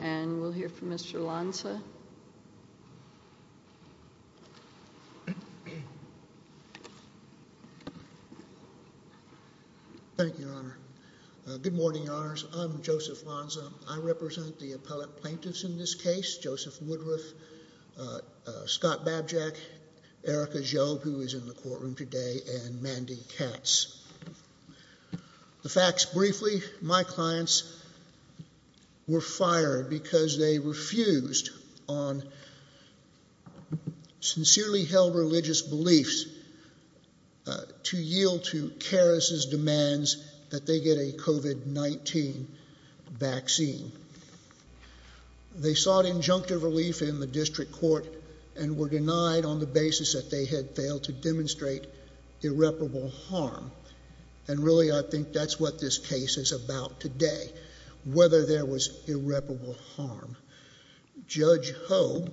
and we'll hear from Mr. Lonza. Thank you, Your Honor. Good morning, Your Honors. I'm Joseph Lonza. I represent the appellate plaintiffs in this case, Joseph Woodruff, Scott Babjack, Erica Joe, who is in the courtroom today, and Mandy Katz. The facts briefly, my clients were fired because they refused on sincerely held religious beliefs to yield to Caris' demands that they get a COVID-19 vaccine. They sought injunctive relief in the district court and were denied on the basis that they had failed to demonstrate irreparable harm. And really, I think that's what this case is about today, whether there was irreparable harm. Judge Hogue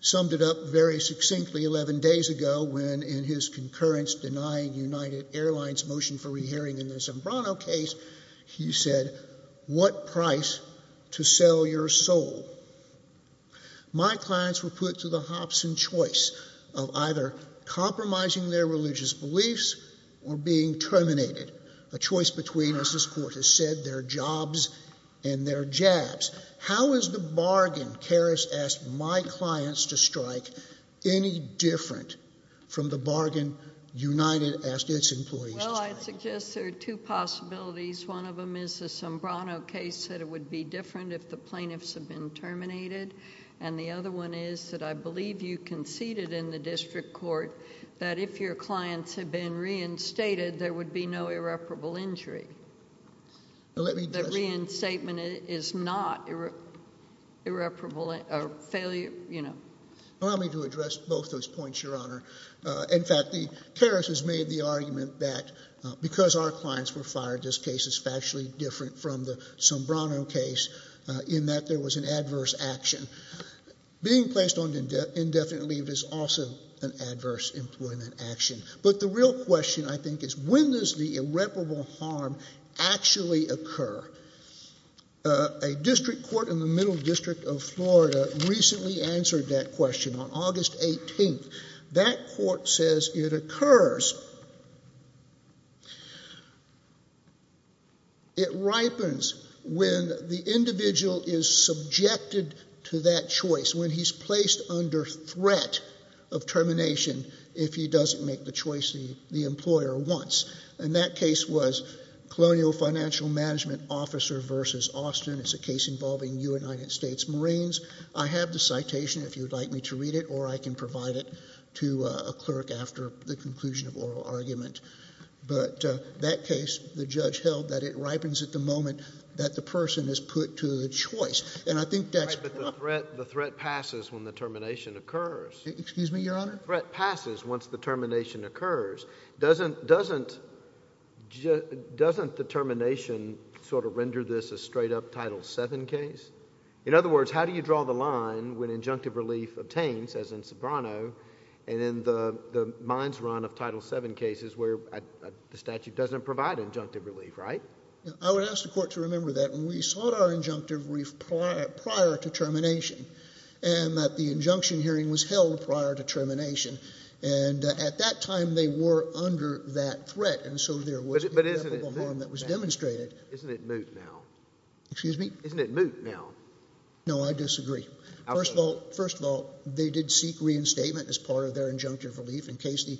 summed it up very succinctly eleven days ago when in his concurrence denying United Airlines' motion for re-hearing in the Zambrano case, he said, what price to sell your soul? My clients were put to the hops and choice of either compromising their religious beliefs or being terminated. A choice between, as this court has said, their jobs and their jabs. How is the bargain Caris asked my clients to strike any different from the bargain United asked its employees to strike? Well, I'd suggest there are two possibilities. One of them is the Zambrano case, that it would be different if the plaintiffs had been terminated. And the other one is that I believe you conceded in the district court that if your clients had been reinstated, there would be no irreparable injury. The reinstatement is not irreparable failure, you know. Allow me to address both those points, Your Honor. In fact, Caris has made the argument that because our clients were fired, this case is factually different from the Zambrano case in that there was an adverse action. Being placed on indefinite leave is also an adverse employment action. But the real question, I think, is when does the irreparable harm actually occur? A district court in the Middle District of Florida recently answered that question on August 18th. That court says it occurs it ripens when the individual is subjected to that choice, when he's placed under threat of termination if he doesn't make the choice the employer wants. And that case was Colonial Financial Management Officer v. Austin. It's a case involving United States Marines. I have the citation if you'd like me to read it, or I can provide it to a clerk after the conclusion of oral argument. But that case, the judge held that it ripens at the moment that the person is put to the choice. And I think that's... Right, but the threat passes when the termination occurs. Excuse me, Your Honor? The threat passes once the termination occurs. Doesn't the termination sort of render this a straight up Title VII case? In other words, how do you draw the line when injunctive relief obtains, as in Zambrano, and in the minds run of Title VII cases where the statute doesn't provide injunctive relief, right? I would ask the court to remember that when we sought our injunctive relief prior to termination, and that the injunction hearing was held prior to termination, and at that time they were under that threat, and so there was the harm that was demonstrated. Isn't it moot now? No, I disagree. First of all, they did seek reinstatement as part of their injunctive relief in case the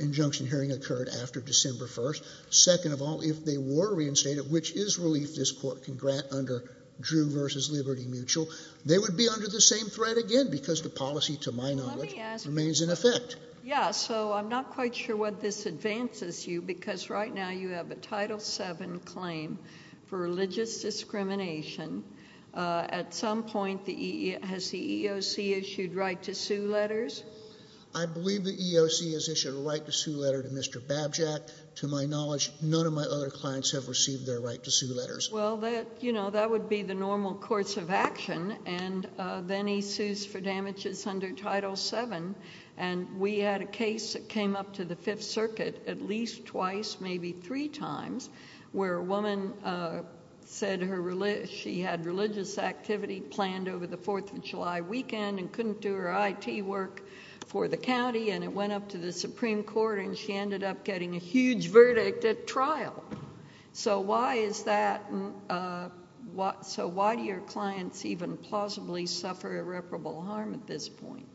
injunction hearing occurred after December 1st. Second of all, if they were reinstated, which is relief this court can grant under Drew v. Liberty Mutual, they would be under the same threat again because the policy, to my knowledge, remains in effect. Yeah, so I'm not quite sure what this advances you because right now you have a Title VII claim for religious discrimination. At some point, has the EEOC issued right-to-sue letters? I believe the EEOC has issued a right-to-sue letter to Mr. Babjack. To my knowledge, none of my other clients have received their right-to-sue letters. Well, you know, that would be the normal course of action, and then he sues for damages under Title VII, and we had a case that came up to the Fifth Circuit at least twice, maybe three times, where a woman said she had religious activity planned over the Fourth of July weekend and couldn't do her IT work for the county, and it went up to the Supreme Court, and she ended up getting a huge verdict at trial. So why is that, so why do your clients even plausibly suffer irreparable harm at this point?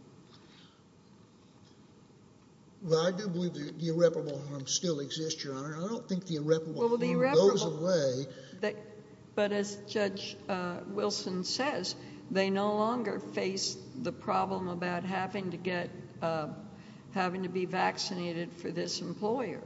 Well, I do believe the irreparable harm still exists, Your Honor. I don't think the irreparable harm goes away. But as Judge Wilson says, they no longer face the problem about having to get, having to be vaccinated for this employer.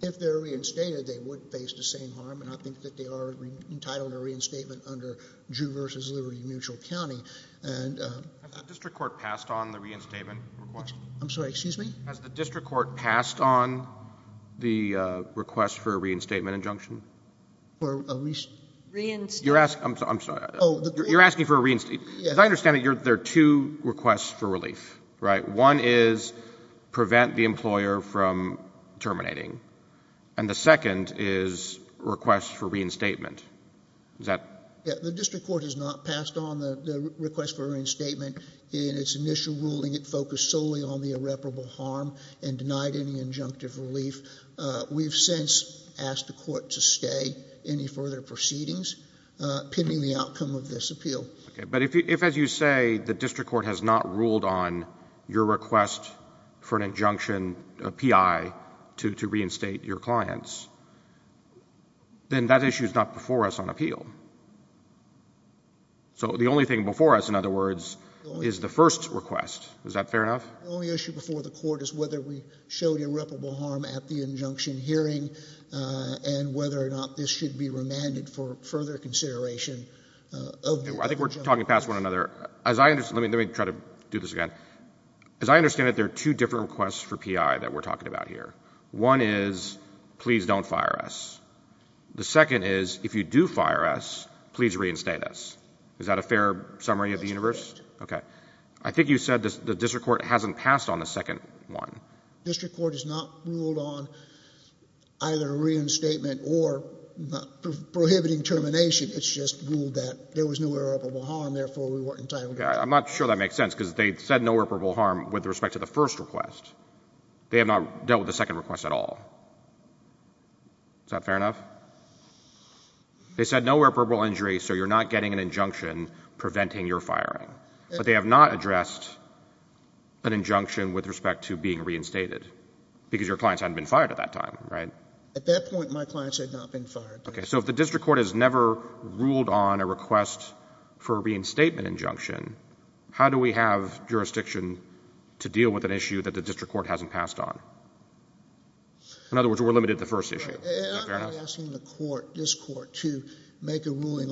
If they're reinstated, they would face the same harm, and I think that they are entitled to a reinstatement under Drew v. Liberty Mutual County. Has the district court passed on the reinstatement request? I'm sorry, excuse me? Has the district court passed on the request for a reinstatement injunction? For a re- Reinstatement? You're asking, I'm sorry, you're asking for a reinstatement. As I understand it, there are two requests for relief, right? One is prevent the employer from terminating, and the second is request for reinstatement. The district court has not passed on the request for reinstatement. In its initial ruling, it focused solely on the irreparable harm and denied any injunctive relief. We've since asked the court to stay any further proceedings pending the outcome of this appeal. But if, as you say, the district court has not ruled on your request for an injunction, a PI, to reinstate your clients, then that issue is not before us on appeal. So the only thing before us, in other words, is the first request. Is that fair enough? The only issue before the court is whether we showed irreparable harm at the injunction hearing and whether or not this should be remanded for further consideration. I think we're talking past one another. Let me try to do this again. As I understand it, there are two different requests for PI that we're talking about here. One is please don't fire us. The second is, if you do fire us, please reinstate us. Is that a fair summary of the universe? I think you said the district court hasn't passed on the second one. The district court has not ruled on either reinstatement or prohibiting termination. It's just ruled that there was no irreparable harm, therefore we weren't entitled to it. I'm not sure that makes sense, because they said no irreparable harm with respect to the first request. They have not dealt with the second request at all. Is that fair enough? They said no irreparable injury, so you're not getting an injunction preventing your firing. But they have not addressed an injunction with respect to being reinstated because your clients hadn't been fired at that time, right? At that point, my clients had not been fired. Okay, so if the district court has never ruled on a request for a reinstatement injunction, how do we have jurisdiction to deal with an issue that the district court hasn't passed on? In other words, we're limited to the first issue. I'm not asking the court, this court, to make a ruling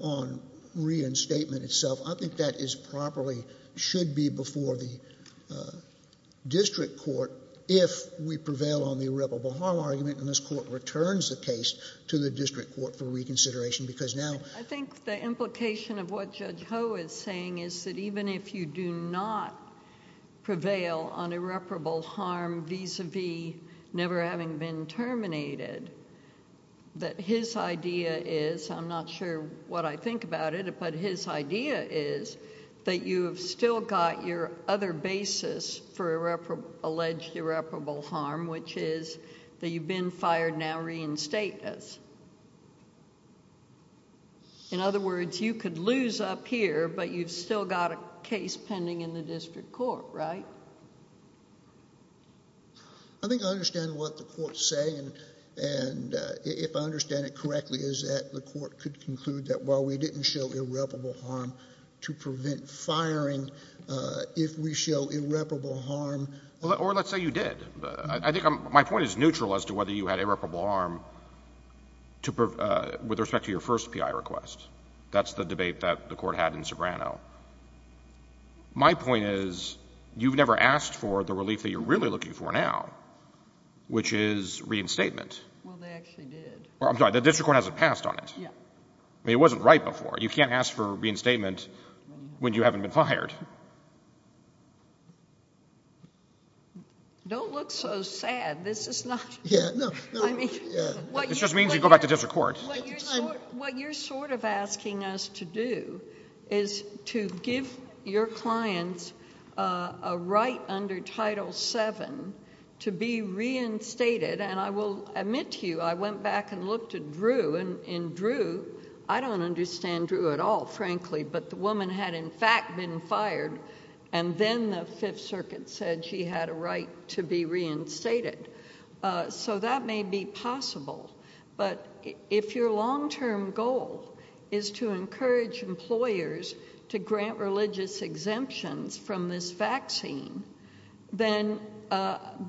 on reinstatement itself. I think that is properly, should be before the district court, if we prevail on the irreparable harm argument, and this court returns the case to the district court for reconsideration, because now... I think the implication of what Judge Ho is saying is that even if you do not prevail on irreparable harm vis-à-vis never having been terminated, that his idea is, I'm not sure what I think about it, but his idea is that you've still got your other basis for alleged irreparable harm, which is that you've been fired, now reinstate us. In other words, you could lose up here, but you've still got a case pending in the district court, right? I think I understand what the courts say, and if I understand it correctly, is that the court could conclude that while we didn't show irreparable harm to prevent firing, if we show irreparable harm... Or let's say you did. I think my point is neutral as to whether you had irreparable harm with respect to your first PI request. That's the debate that the court had in Sobrano. My point is you've never asked for the relief that you're really looking for now, which is reinstatement. Well, they actually did. I'm sorry, the district court hasn't passed on it. It wasn't right before. You can't ask for reinstatement when you haven't been fired. Don't look so sad. This is not... It just means you go back to district court. What you're sort of asking us to do is to give your clients a right under Title VII to be reinstated, and I will admit to you, I went back and looked at Drew, and I found out that the woman had in fact been fired, and then the Fifth Circuit said she had a right to be reinstated. So that may be possible, but if your long-term goal is to encourage employers to grant religious exemptions from this vaccine, then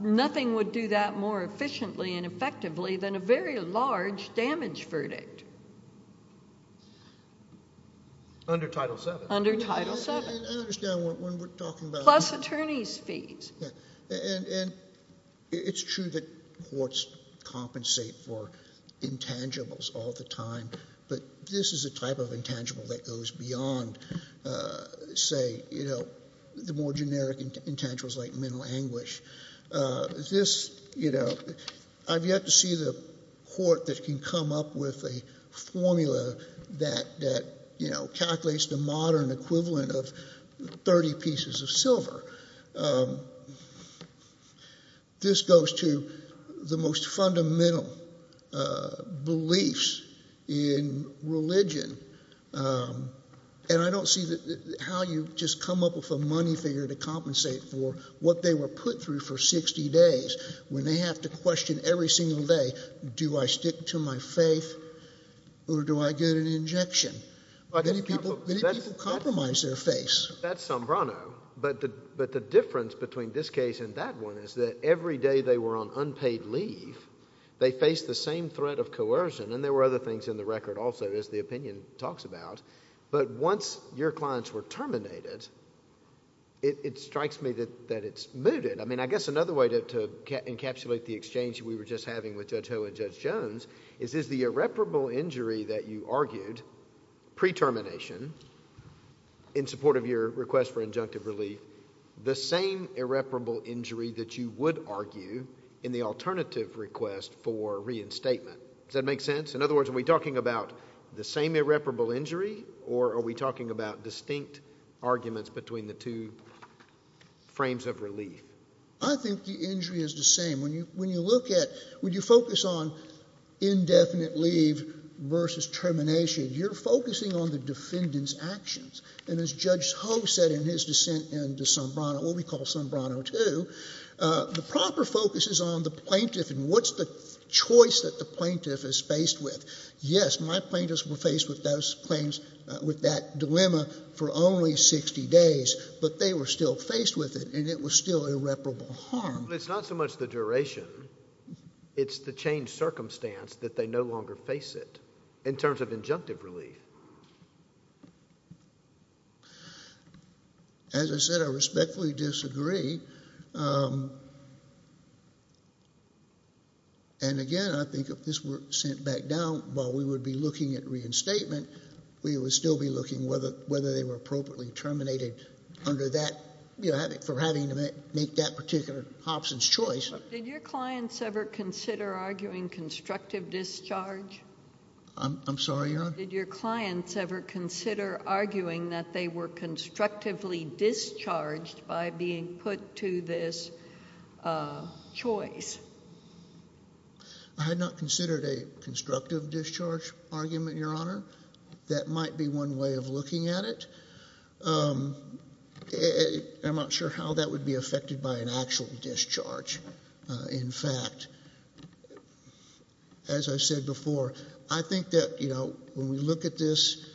nothing would do that more efficiently and effectively than a very large damage verdict. Under Title VII? Under Title VII. I understand when we're talking about... Plus attorney's fees. And it's true that courts compensate for intangibles all the time, but this is a type of intangible that goes beyond, say, you know, the more generic intangibles like mental anguish. This, you know, I've yet to see the court that can come up with a formula that, you know, calculates the modern equivalent of 30 pieces of silver. This goes to the most fundamental beliefs in religion, and I don't see how you just come up with a money figure to compensate for what they were put through for 60 days, when they have to question every single day, do I stick to my faith or do I get an injection? Many people compromise their faith. That's Sombrano, but the difference between this case and that one is that every day they were on unpaid leave, they faced the same threat of coercion, and there were other things in the record also, as the opinion talks about, but once your clients were terminated, it strikes me that it's mooted. I mean, I guess another way to encapsulate the exchange we were just having with Judge Ho and Judge Jones is, is the irreparable injury that you argued pre-termination, in support of your request for injunctive relief, the same irreparable injury that you would argue in the alternative request for reinstatement? Does that make sense? In other words, are we talking about the same irreparable injury, or are we talking about distinct arguments between the two frames of relief? I think the injury is the same. When you look at, when you focus on indefinite leave versus termination, you're focusing on the defendant's actions, and as Judge Ho said in his dissent into Sombrano, what we call Sombrano II, the proper focus is on the plaintiff and what's the choice that the plaintiff is faced with. Yes, my plaintiffs were faced with those claims, with that dilemma, for only 60 days, but they were still faced with it, and it was still irreparable harm. But it's not so much the duration. It's the changed circumstance that they no longer face it, in terms of injunctive relief. As I said, I respectfully disagree. And again, I think if this were sent back down, while we would be looking at reinstatement, we would still be looking whether they were appropriately terminated for having to make that particular Hobson's choice. Did your clients ever consider arguing constructive discharge? I'm sorry, Your Honor? Did your clients ever consider arguing that they were constructively discharged by being put to this choice? I had not considered a constructive discharge argument, Your Honor. That might be one way of looking at it. I'm not sure how that would be affected by an actual discharge. In fact, as I said before, I think that when we look at this,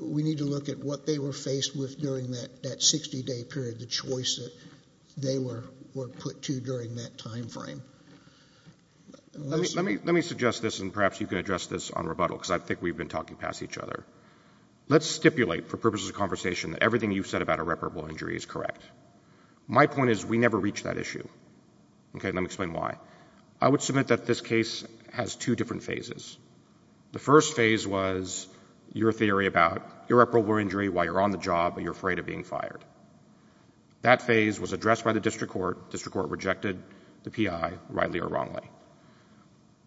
we need to look at what they were faced with during that 60-day period, the choice that they were put to during that time frame. Let me suggest this, and perhaps you can address this on rebuttal, because I think we've been talking past each other. Let's stipulate, for purposes of conversation, that everything you've said about irreparable injury is correct. My point is we never reach that issue. Let me explain why. I would submit that this case has two different phases. The first phase was your theory about irreparable injury while you're on the job and you're afraid of being fired. That phase was addressed by the district court. The district court rejected the PI, rightly or wrongly.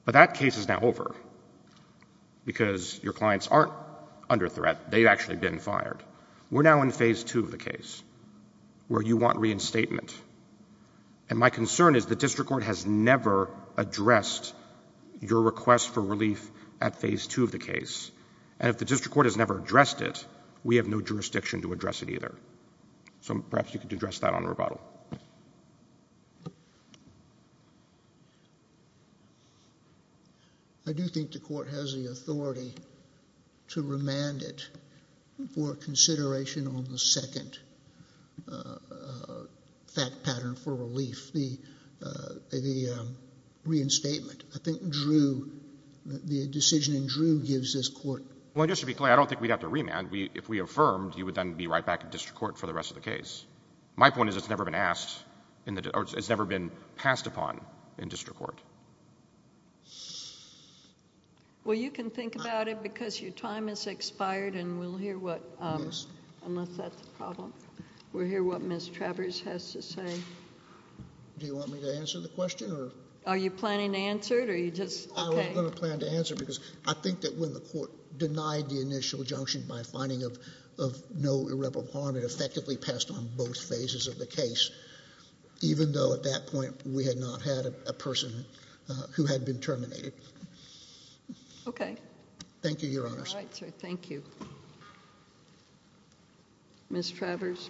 But that case is now over because your clients aren't under threat. They've actually been fired. We're now in phase two of the case where you want reinstatement. My concern is the district court has never addressed your request for relief at phase two of the case. If the district court has never addressed it, we have no jurisdiction to address it either. So perhaps you could address that on rebuttal. I do think the court has the authority to remand it for consideration on the second fact pattern for relief, the reinstatement. I think Drew, the decision in Drew gives this court. Well, just to be clear, I don't think we'd have to remand. If we affirmed, he would then be right back in district court for the rest of the case. My point is it's never been passed upon in district court. Well, you can think about it because your time has expired and we'll hear what Ms. Travers has to say. Do you want me to answer the question? Are you planning to answer it? I wasn't going to plan to answer it because I think that when the court made the finding of no irreparable harm, it effectively passed on both phases of the case, even though at that point we had not had a person who had been terminated. Okay. Thank you, Your Honors. All right, sir. Thank you. Ms. Travers.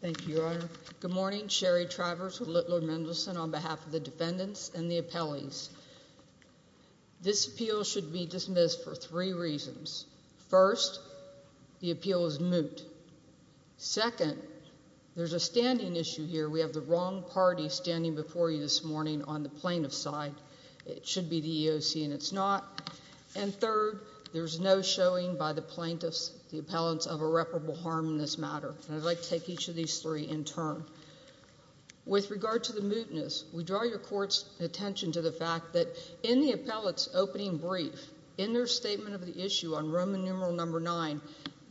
Thank you, Your Honor. Good morning. Sherry Travers with Little Mendelsohn on behalf of the defendants and the appellees. This appeal should be dismissed for three reasons. First, the appeal is moot. Second, there's a standing issue here. We have the wrong party standing before you this morning on the plaintiff's side. It should be the EEOC, and it's not. And third, there's no showing by the plaintiffs, the appellants, of irreparable harm in this matter. I'd like to take each of these three in turn. With regard to the mootness, we draw your court's attention to the fact that in the appellate's opening brief, in their statement of the issue on Roman numeral number nine,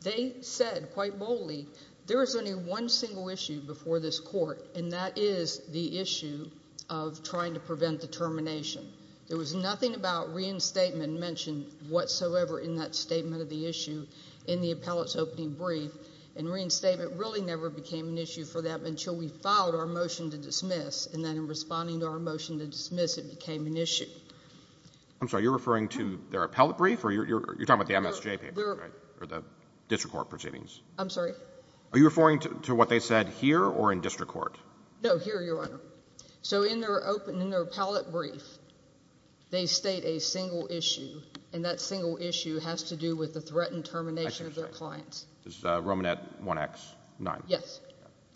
they said quite boldly, there is only one single issue before this court, and that is the issue of trying to prevent the termination. There was nothing about reinstatement mentioned whatsoever in that statement of the issue in the appellate's opening brief, and reinstatement really never became an issue for them until we filed our motion to dismiss, and then in responding to our motion to dismiss, it became an issue. I'm sorry. You're referring to their appellate brief, or you're talking about the MSJ paper, right, or the district court proceedings? I'm sorry. Are you referring to what they said here or in district court? No, here, Your Honor. So in their appellate brief, they state a single issue, and that single issue has to do with the threat and termination of their clients. This is Romanette 1X9. Yes.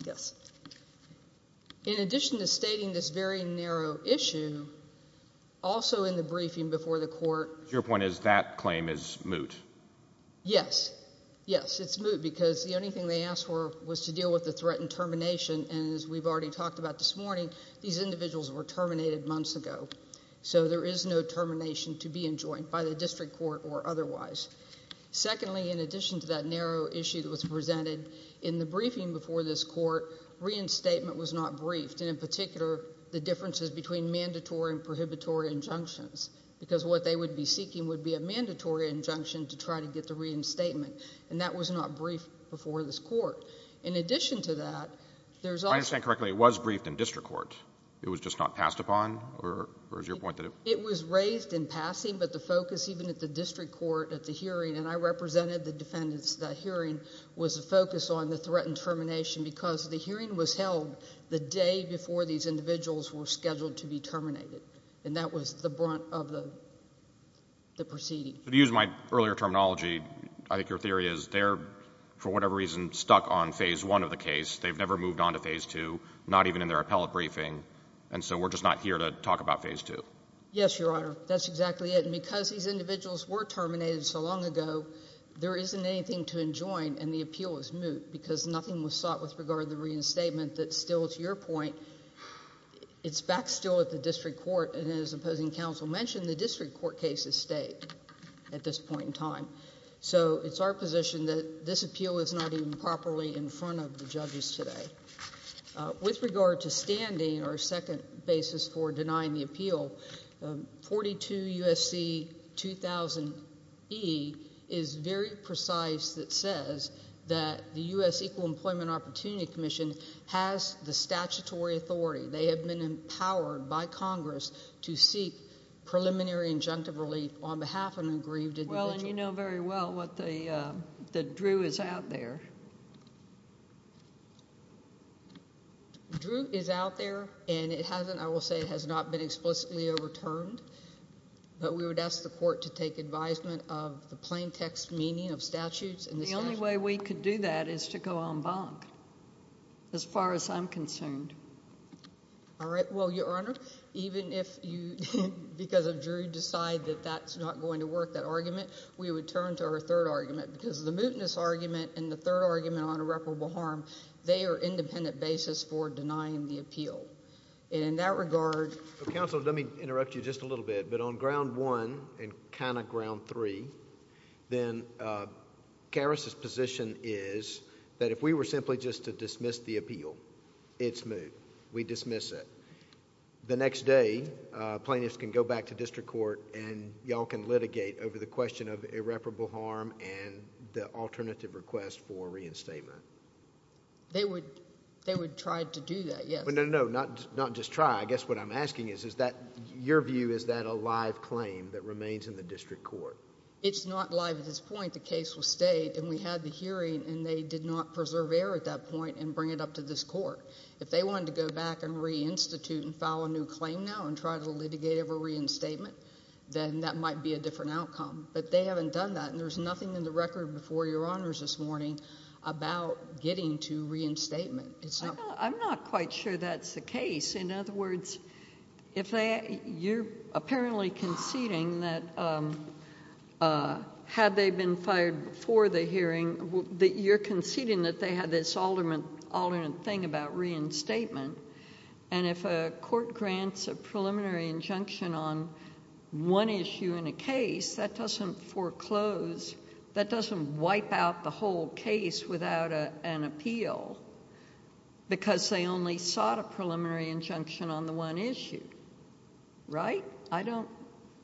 Yes. In addition to stating this very narrow issue, also in the briefing before the court. Your point is that claim is moot. Yes. Yes, it's moot because the only thing they asked for was to deal with the threat and termination, and as we've already talked about this morning, these individuals were terminated months ago. So there is no termination to be enjoined by the district court or otherwise. Secondly, in addition to that narrow issue that was presented in the briefing before this court, reinstatement was not briefed, and in particular, the differences between mandatory and prohibitory injunctions because what they would be seeking would be a mandatory injunction to try to get the reinstatement, and that was not briefed before this court. In addition to that, there's also – If I understand correctly, it was briefed in district court. It was just not passed upon, or is your point that it – It was raised in passing, but the focus, even at the district court, at the hearing, and I represented the defendants at that hearing, was to focus on the threat and termination because the hearing was held the day before these individuals were scheduled to be terminated, and that was the brunt of the proceeding. To use my earlier terminology, I think your theory is they're, for whatever reason, stuck on phase one of the case. They've never moved on to phase two, not even in their appellate briefing, and so we're just not here to talk about phase two. Yes, Your Honor, that's exactly it, and because these individuals were terminated so long ago, there isn't anything to enjoin, and the appeal is moot because nothing was sought with regard to the reinstatement that still, to your point, it's back still at the district court, and as opposing counsel mentioned, the district court case has stayed at this point in time. So it's our position that this appeal is not even properly in front of the judges today. With regard to standing, our second basis for denying the appeal, 42 U.S.C. 2000E is very precise. It says that the U.S. Equal Employment Opportunity Commission has the statutory authority. They have been empowered by Congress to seek preliminary injunctive relief on behalf of an aggrieved individual. Well, and you know very well that Drew is out there. Drew is out there, and it hasn't, I will say, it has not been explicitly overturned, but we would ask the court to take advisement of the plain text meaning of statutes and the statute. The only way we could do that is to go en banc as far as I'm concerned. All right, well, Your Honor, even if you, because of Drew, decide that that's not going to work, that argument, we would turn to our third argument because the mootness argument and the third argument on irreparable harm, they are independent basis for denying the appeal, and in that regard— Counsel, let me interrupt you just a little bit, but on ground one and kind of ground three, then Karis's position is that if we were simply just to dismiss the appeal, it's moot. We dismiss it. The next day, plaintiffs can go back to district court, and y'all can litigate over the question of irreparable harm and the alternative request for reinstatement. They would try to do that, yes. No, no, no, not just try. I guess what I'm asking is, is that, your view, is that a live claim that remains in the district court? It's not live at this point. The case was stayed, and we had the hearing, and they did not preserve error at that point and bring it up to this court. If they wanted to go back and reinstitute and file a new claim now and try to litigate over reinstatement, then that might be a different outcome. But they haven't done that, and there's nothing in the record before Your Honors this morning about getting to reinstatement. I'm not quite sure that's the case. In other words, if you're apparently conceding that had they been fired before the hearing, you're conceding that they had this alternate thing about reinstatement, and if a court grants a preliminary injunction on one issue in a case, that doesn't foreclose, that doesn't wipe out the whole case without an appeal because they only sought a preliminary injunction on the one issue. Right? I don't...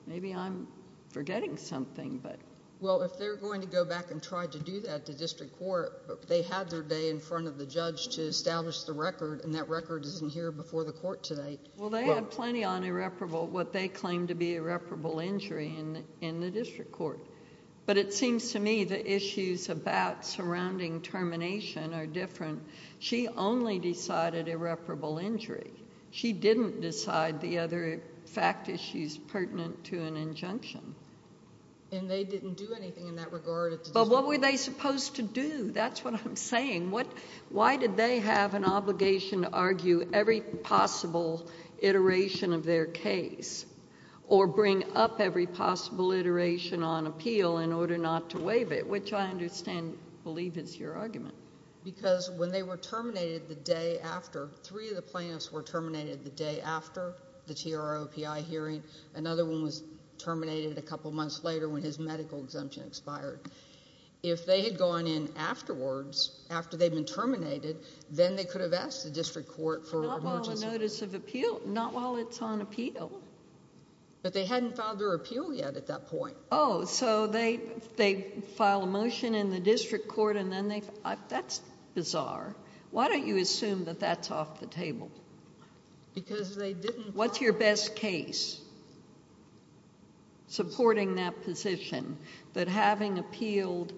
maybe I'm forgetting something, but... Well, if they're going to go back and try to do that to district court, they had their day in front of the judge to establish the record, and that record isn't here before the court today. Well, they had plenty on irreparable, what they claim to be irreparable injury in the district court. But it seems to me the issues about surrounding termination are different. She only decided irreparable injury. She didn't decide the other fact issues pertinent to an injunction. And they didn't do anything in that regard? But what were they supposed to do? That's what I'm saying. Why did they have an obligation to argue every possible iteration of their case or bring up every possible iteration on appeal in order not to waive it, which I understand, believe is your argument? Because when they were terminated the day after, three of the plaintiffs were terminated the day after the TROPI hearing. Another one was terminated a couple months later when his medical exemption expired. If they had gone in afterwards, after they'd been terminated, then they could have asked the district court for an emergency. Not while on notice of appeal. Not while it's on appeal. But they hadn't filed their appeal yet at that point. Oh, so they file a motion in the district court, and then they file – that's bizarre. Why don't you assume that that's off the table? Because they didn't – What's your best case supporting that position, that having appealed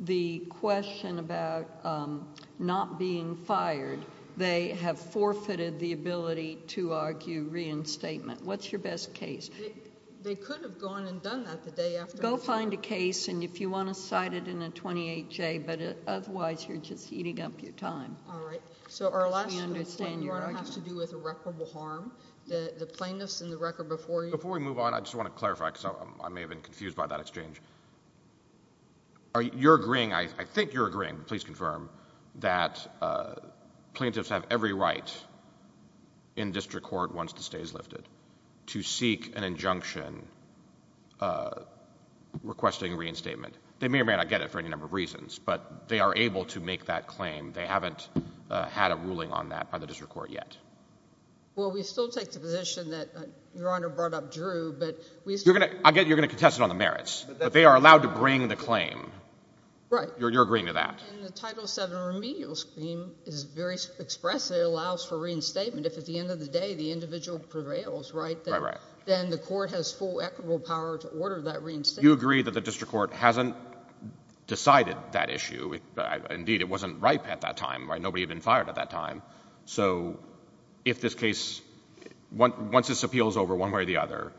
the question about not being fired, they have forfeited the ability to argue reinstatement? What's your best case? They could have gone and done that the day after. Go find a case, and if you want to cite it in a 28-J, but otherwise you're just eating up your time. All right. So our last complaint has to do with irreparable harm. The plaintiffs in the record before you – Before we move on, I just want to clarify, because I may have been confused by that exchange. You're agreeing – I think you're agreeing, but please confirm – that plaintiffs have every right in district court, once the stay is lifted, to seek an injunction requesting reinstatement. They may or may not get it for any number of reasons, but they are able to make that claim. They haven't had a ruling on that by the district court yet. Well, we still take the position that Your Honor brought up Drew, but we still – You're going to contest it on the merits, but they are allowed to bring the claim. Right. You're agreeing to that. And the Title VII remedial scheme is very expressive. It allows for reinstatement if at the end of the day the individual prevails, right? Right, right. Then the court has full equitable power to order that reinstatement. You agree that the district court hasn't decided that issue. Indeed, it wasn't ripe at that time. Nobody had been fired at that time. So if this case – once this appeal is over one way or the other,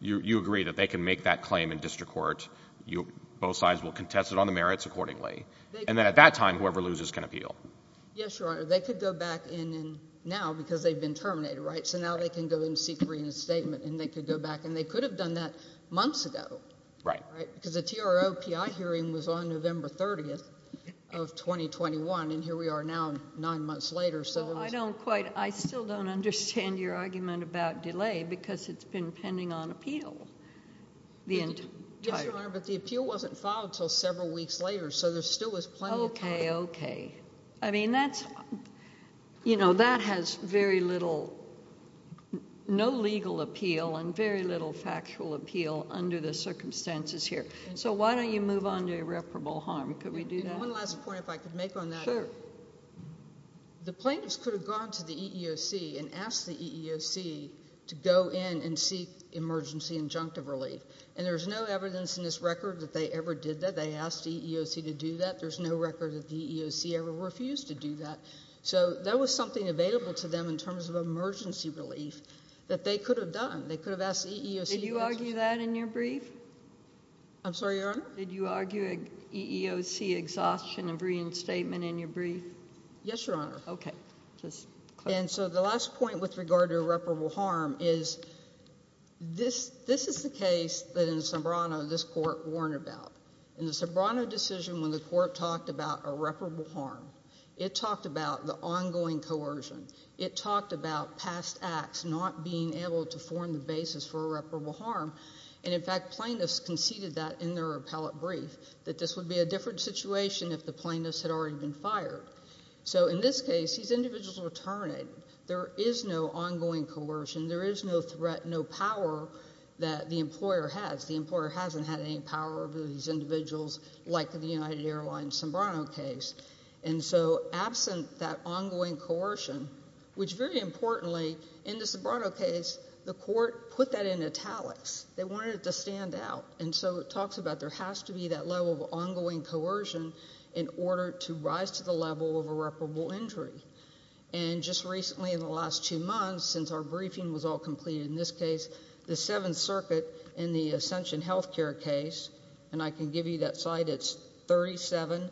you agree that they can make that claim in district court. Both sides will contest it on the merits accordingly. And then at that time, whoever loses can appeal. Yes, Your Honor. They could go back in now because they've been terminated, right? So now they can go in and seek reinstatement, and they could go back, and they could have done that months ago. Right. Because the TRO-PI hearing was on November 30th of 2021, and here we are now nine months later. Well, I don't quite – I still don't understand your argument about delay because it's been pending on appeal the entire – Yes, Your Honor, but the appeal wasn't filed until several weeks later, so there still was plenty of time. Okay, okay. I mean that's – you know, that has very little – no legal appeal and very little factual appeal under the circumstances here. So why don't you move on to irreparable harm? Could we do that? One last point if I could make on that. Sure. The plaintiffs could have gone to the EEOC and asked the EEOC to go in and seek emergency injunctive relief. And there's no evidence in this record that they ever did that. They asked the EEOC to do that. There's no record that the EEOC ever refused to do that. So there was something available to them in terms of emergency relief that they could have done. They could have asked the EEOC. Did you argue that in your brief? I'm sorry, Your Honor? Did you argue an EEOC exhaustion of reinstatement in your brief? Yes, Your Honor. Okay. And so the last point with regard to irreparable harm is this is the case that in Sobrano this court warned about. In the Sobrano decision when the court talked about irreparable harm, it talked about the ongoing coercion. It talked about past acts not being able to form the basis for irreparable harm. And, in fact, plaintiffs conceded that in their appellate brief, that this would be a different situation if the plaintiffs had already been fired. So in this case, these individuals were terminated. There is no ongoing coercion. There is no threat, no power that the employer has. The employer hasn't had any power over these individuals like the United Airlines Sobrano case. And so absent that ongoing coercion, which very importantly in the Sobrano case the court put that in italics. They wanted it to stand out. And so it talks about there has to be that level of ongoing coercion in order to rise to the level of irreparable injury. And just recently in the last two months, since our briefing was all completed in this case, the Seventh Circuit in the Ascension Health Care case, and I can give you that slide, it's 37F4,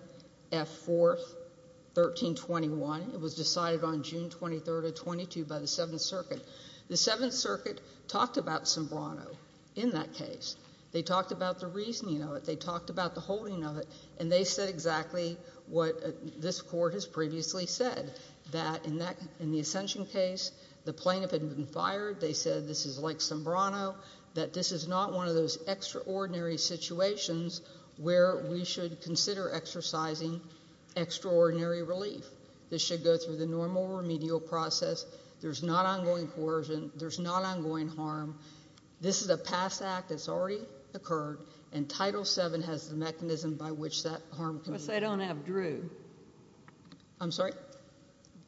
1321. It was decided on June 23rd of 22 by the Seventh Circuit. The Seventh Circuit talked about Sobrano in that case. They talked about the reasoning of it. They talked about the holding of it. And they said exactly what this court has previously said, that in the Ascension case the plaintiff had been fired. They said this is like Sobrano, that this is not one of those extraordinary situations where we should consider exercising extraordinary relief. This should go through the normal remedial process. There's not ongoing coercion. There's not ongoing harm. This is a past act that's already occurred, and Title VII has the mechanism by which that harm can be remedied. But they don't have Drew. I'm sorry?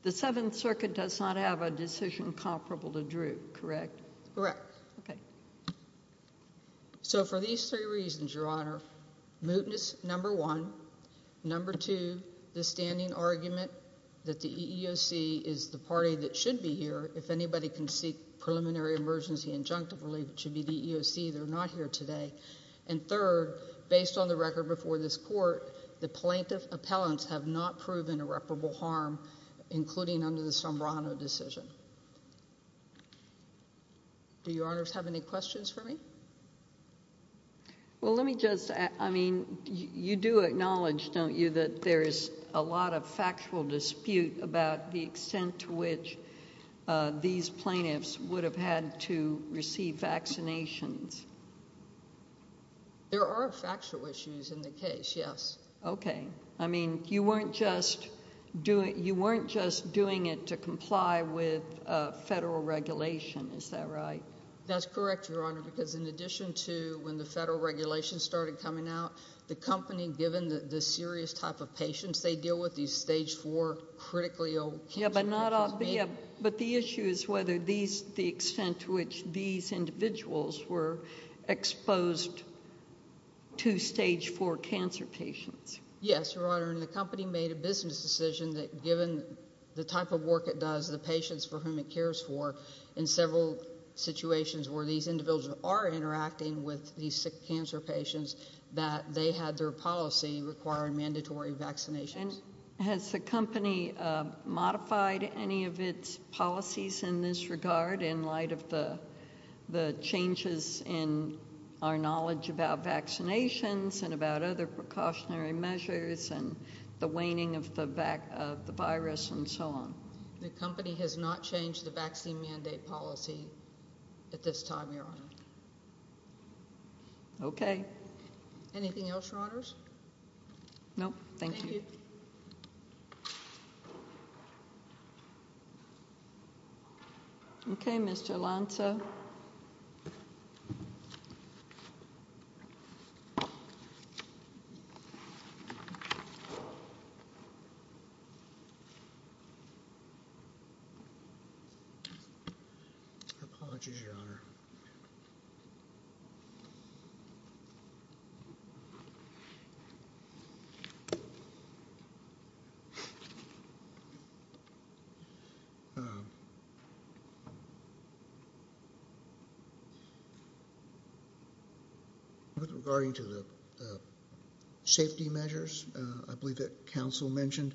The Seventh Circuit does not have a decision comparable to Drew, correct? Correct. Okay. So for these three reasons, Your Honor, mootness, number one. Number two, the standing argument that the EEOC is the party that should be here if anybody can seek preliminary emergency injunctive relief. It should be the EEOC. They're not here today. And third, based on the record before this court, the plaintiff's appellants have not proven irreparable harm, including under the Sobrano decision. Do Your Honors have any questions for me? Well, let me just, I mean, you do acknowledge, don't you, that there is a lot of factual dispute about the extent to which these plaintiffs would have had to receive vaccinations? There are factual issues in the case, yes. Okay. I mean, you weren't just doing it to comply with federal regulation. Is that right? That's correct, Your Honor, because in addition to when the federal regulation started coming out, the company, given the serious type of patients they deal with, these stage four critically ill cancer patients. Yeah, but the issue is whether these, the extent to which these individuals were exposed to stage four cancer patients. Yes, Your Honor, and the company made a business decision that given the type of work it does, the patients for whom it cares for, in several situations where these individuals are interacting with these sick cancer patients, that they had their policy requiring mandatory vaccinations. Has the company modified any of its policies in this regard in light of the changes in our knowledge about vaccinations and about other precautionary measures and the waning of the virus and so on? The company has not changed the vaccine mandate policy at this time, Your Honor. Okay. Anything else, Your Honors? No, thank you. Thank you. Okay, Mr. Lanza. Apologies, Your Honor. With regarding to the safety measures, I believe that counsel mentioned,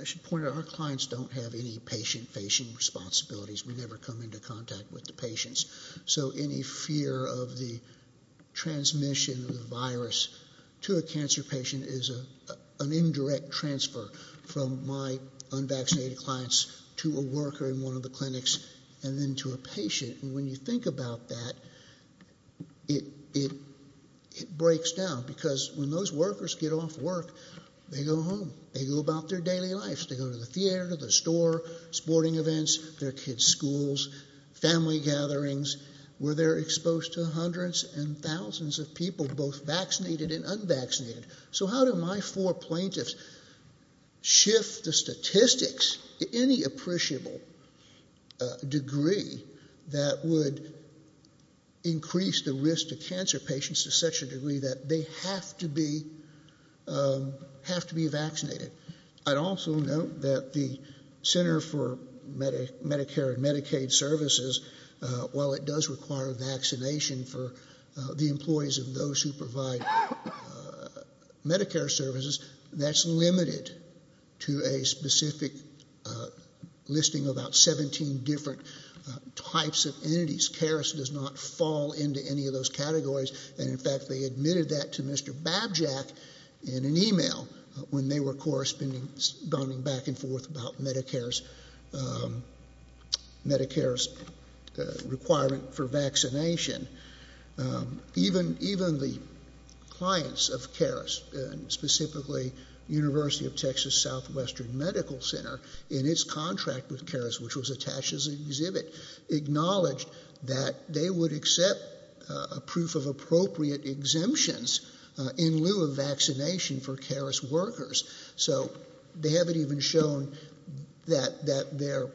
I should point out our clients don't have any patient-facing responsibilities. We never come into contact with the patients. So any fear of the transmission of the virus to a cancer patient is an indirect transfer from my unvaccinated clients to a worker in one of the clinics and then to a patient. And when you think about that, it breaks down. Because when those workers get off work, they go home. They go about their daily lives. They go to the theater, to the store, sporting events, their kids' schools, family gatherings, where they're exposed to hundreds and thousands of people, both vaccinated and unvaccinated. So how do my four plaintiffs shift the statistics to any appreciable degree that would increase the risk to cancer patients to such a degree that they have to be vaccinated? I'd also note that the Center for Medicare and Medicaid Services, while it does require vaccination for the employees of those who provide Medicare services, that's limited to a specific listing of about 17 different types of entities. CARES does not fall into any of those categories. And, in fact, they admitted that to Mr. Babjack in an email when they were corresponding back and forth about Medicare's requirement for vaccination. Even the clients of CARES, and specifically University of Texas Southwestern Medical Center, in its contract with CARES, which was attached as an exhibit, acknowledged that they would accept a proof of appropriate exemptions in lieu of vaccination for CARES workers. So they haven't even shown that their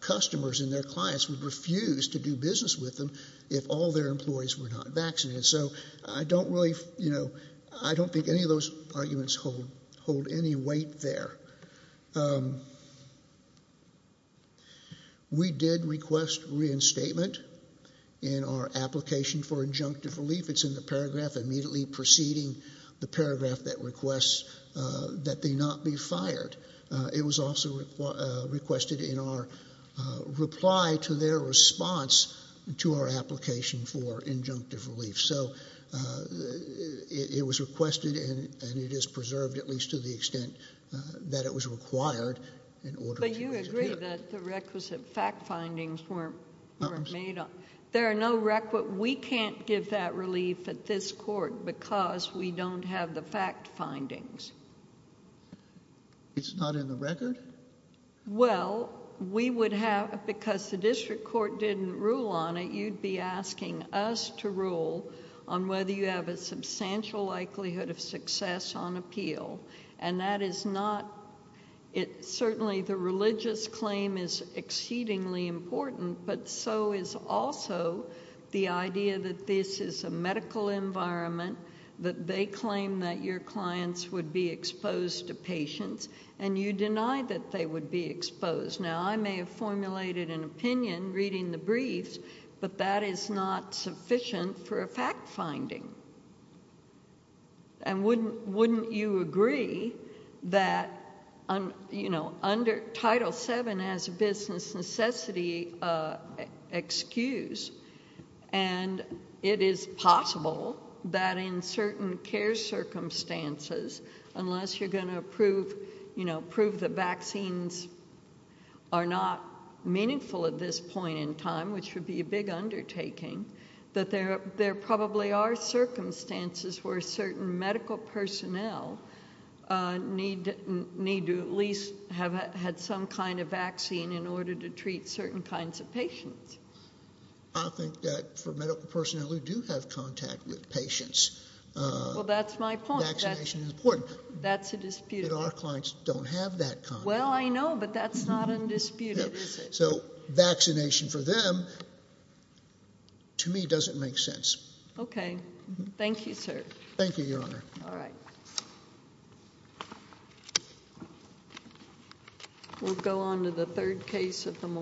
customers and their clients would refuse to do business with them if all their employees were not vaccinated. So I don't think any of those arguments hold any weight there. We did request reinstatement in our application for injunctive relief. It's in the paragraph immediately preceding the paragraph that requests that they not be fired. It was also requested in our reply to their response to our application for injunctive relief. So it was requested and it is preserved, at least to the extent that it was required in order for it to appear. But you agree that the requisite fact findings weren't made up. There are no requisite. We can't give that relief at this court because we don't have the fact findings. It's not in the record? Well, we would have, because the district court didn't rule on it, you'd be asking us to rule on whether you have a substantial likelihood of success on appeal. And that is not, certainly the religious claim is exceedingly important, but so is also the idea that this is a medical environment, that they claim that your clients would be exposed to patients. And you deny that they would be exposed. Now, I may have formulated an opinion reading the briefs, but that is not sufficient for a fact finding. And wouldn't you agree that, you know, under Title VII as a business necessity excuse, and it is possible that in certain care circumstances, unless you're going to prove, you know, prove that vaccines are not meaningful at this point in time, which would be a big undertaking, that there probably are circumstances where certain medical personnel need to at least have had some kind of vaccine in order to treat certain kinds of patients? I think that for medical personnel who do have contact with patients, vaccination is important. That's a disputed point. But our clients don't have that contact. Well, I know, but that's not undisputed, is it? So, vaccination for them, to me, doesn't make sense. Okay. Thank you, sir. Thank you, Your Honor. All right. We'll go on to the third case of the morning.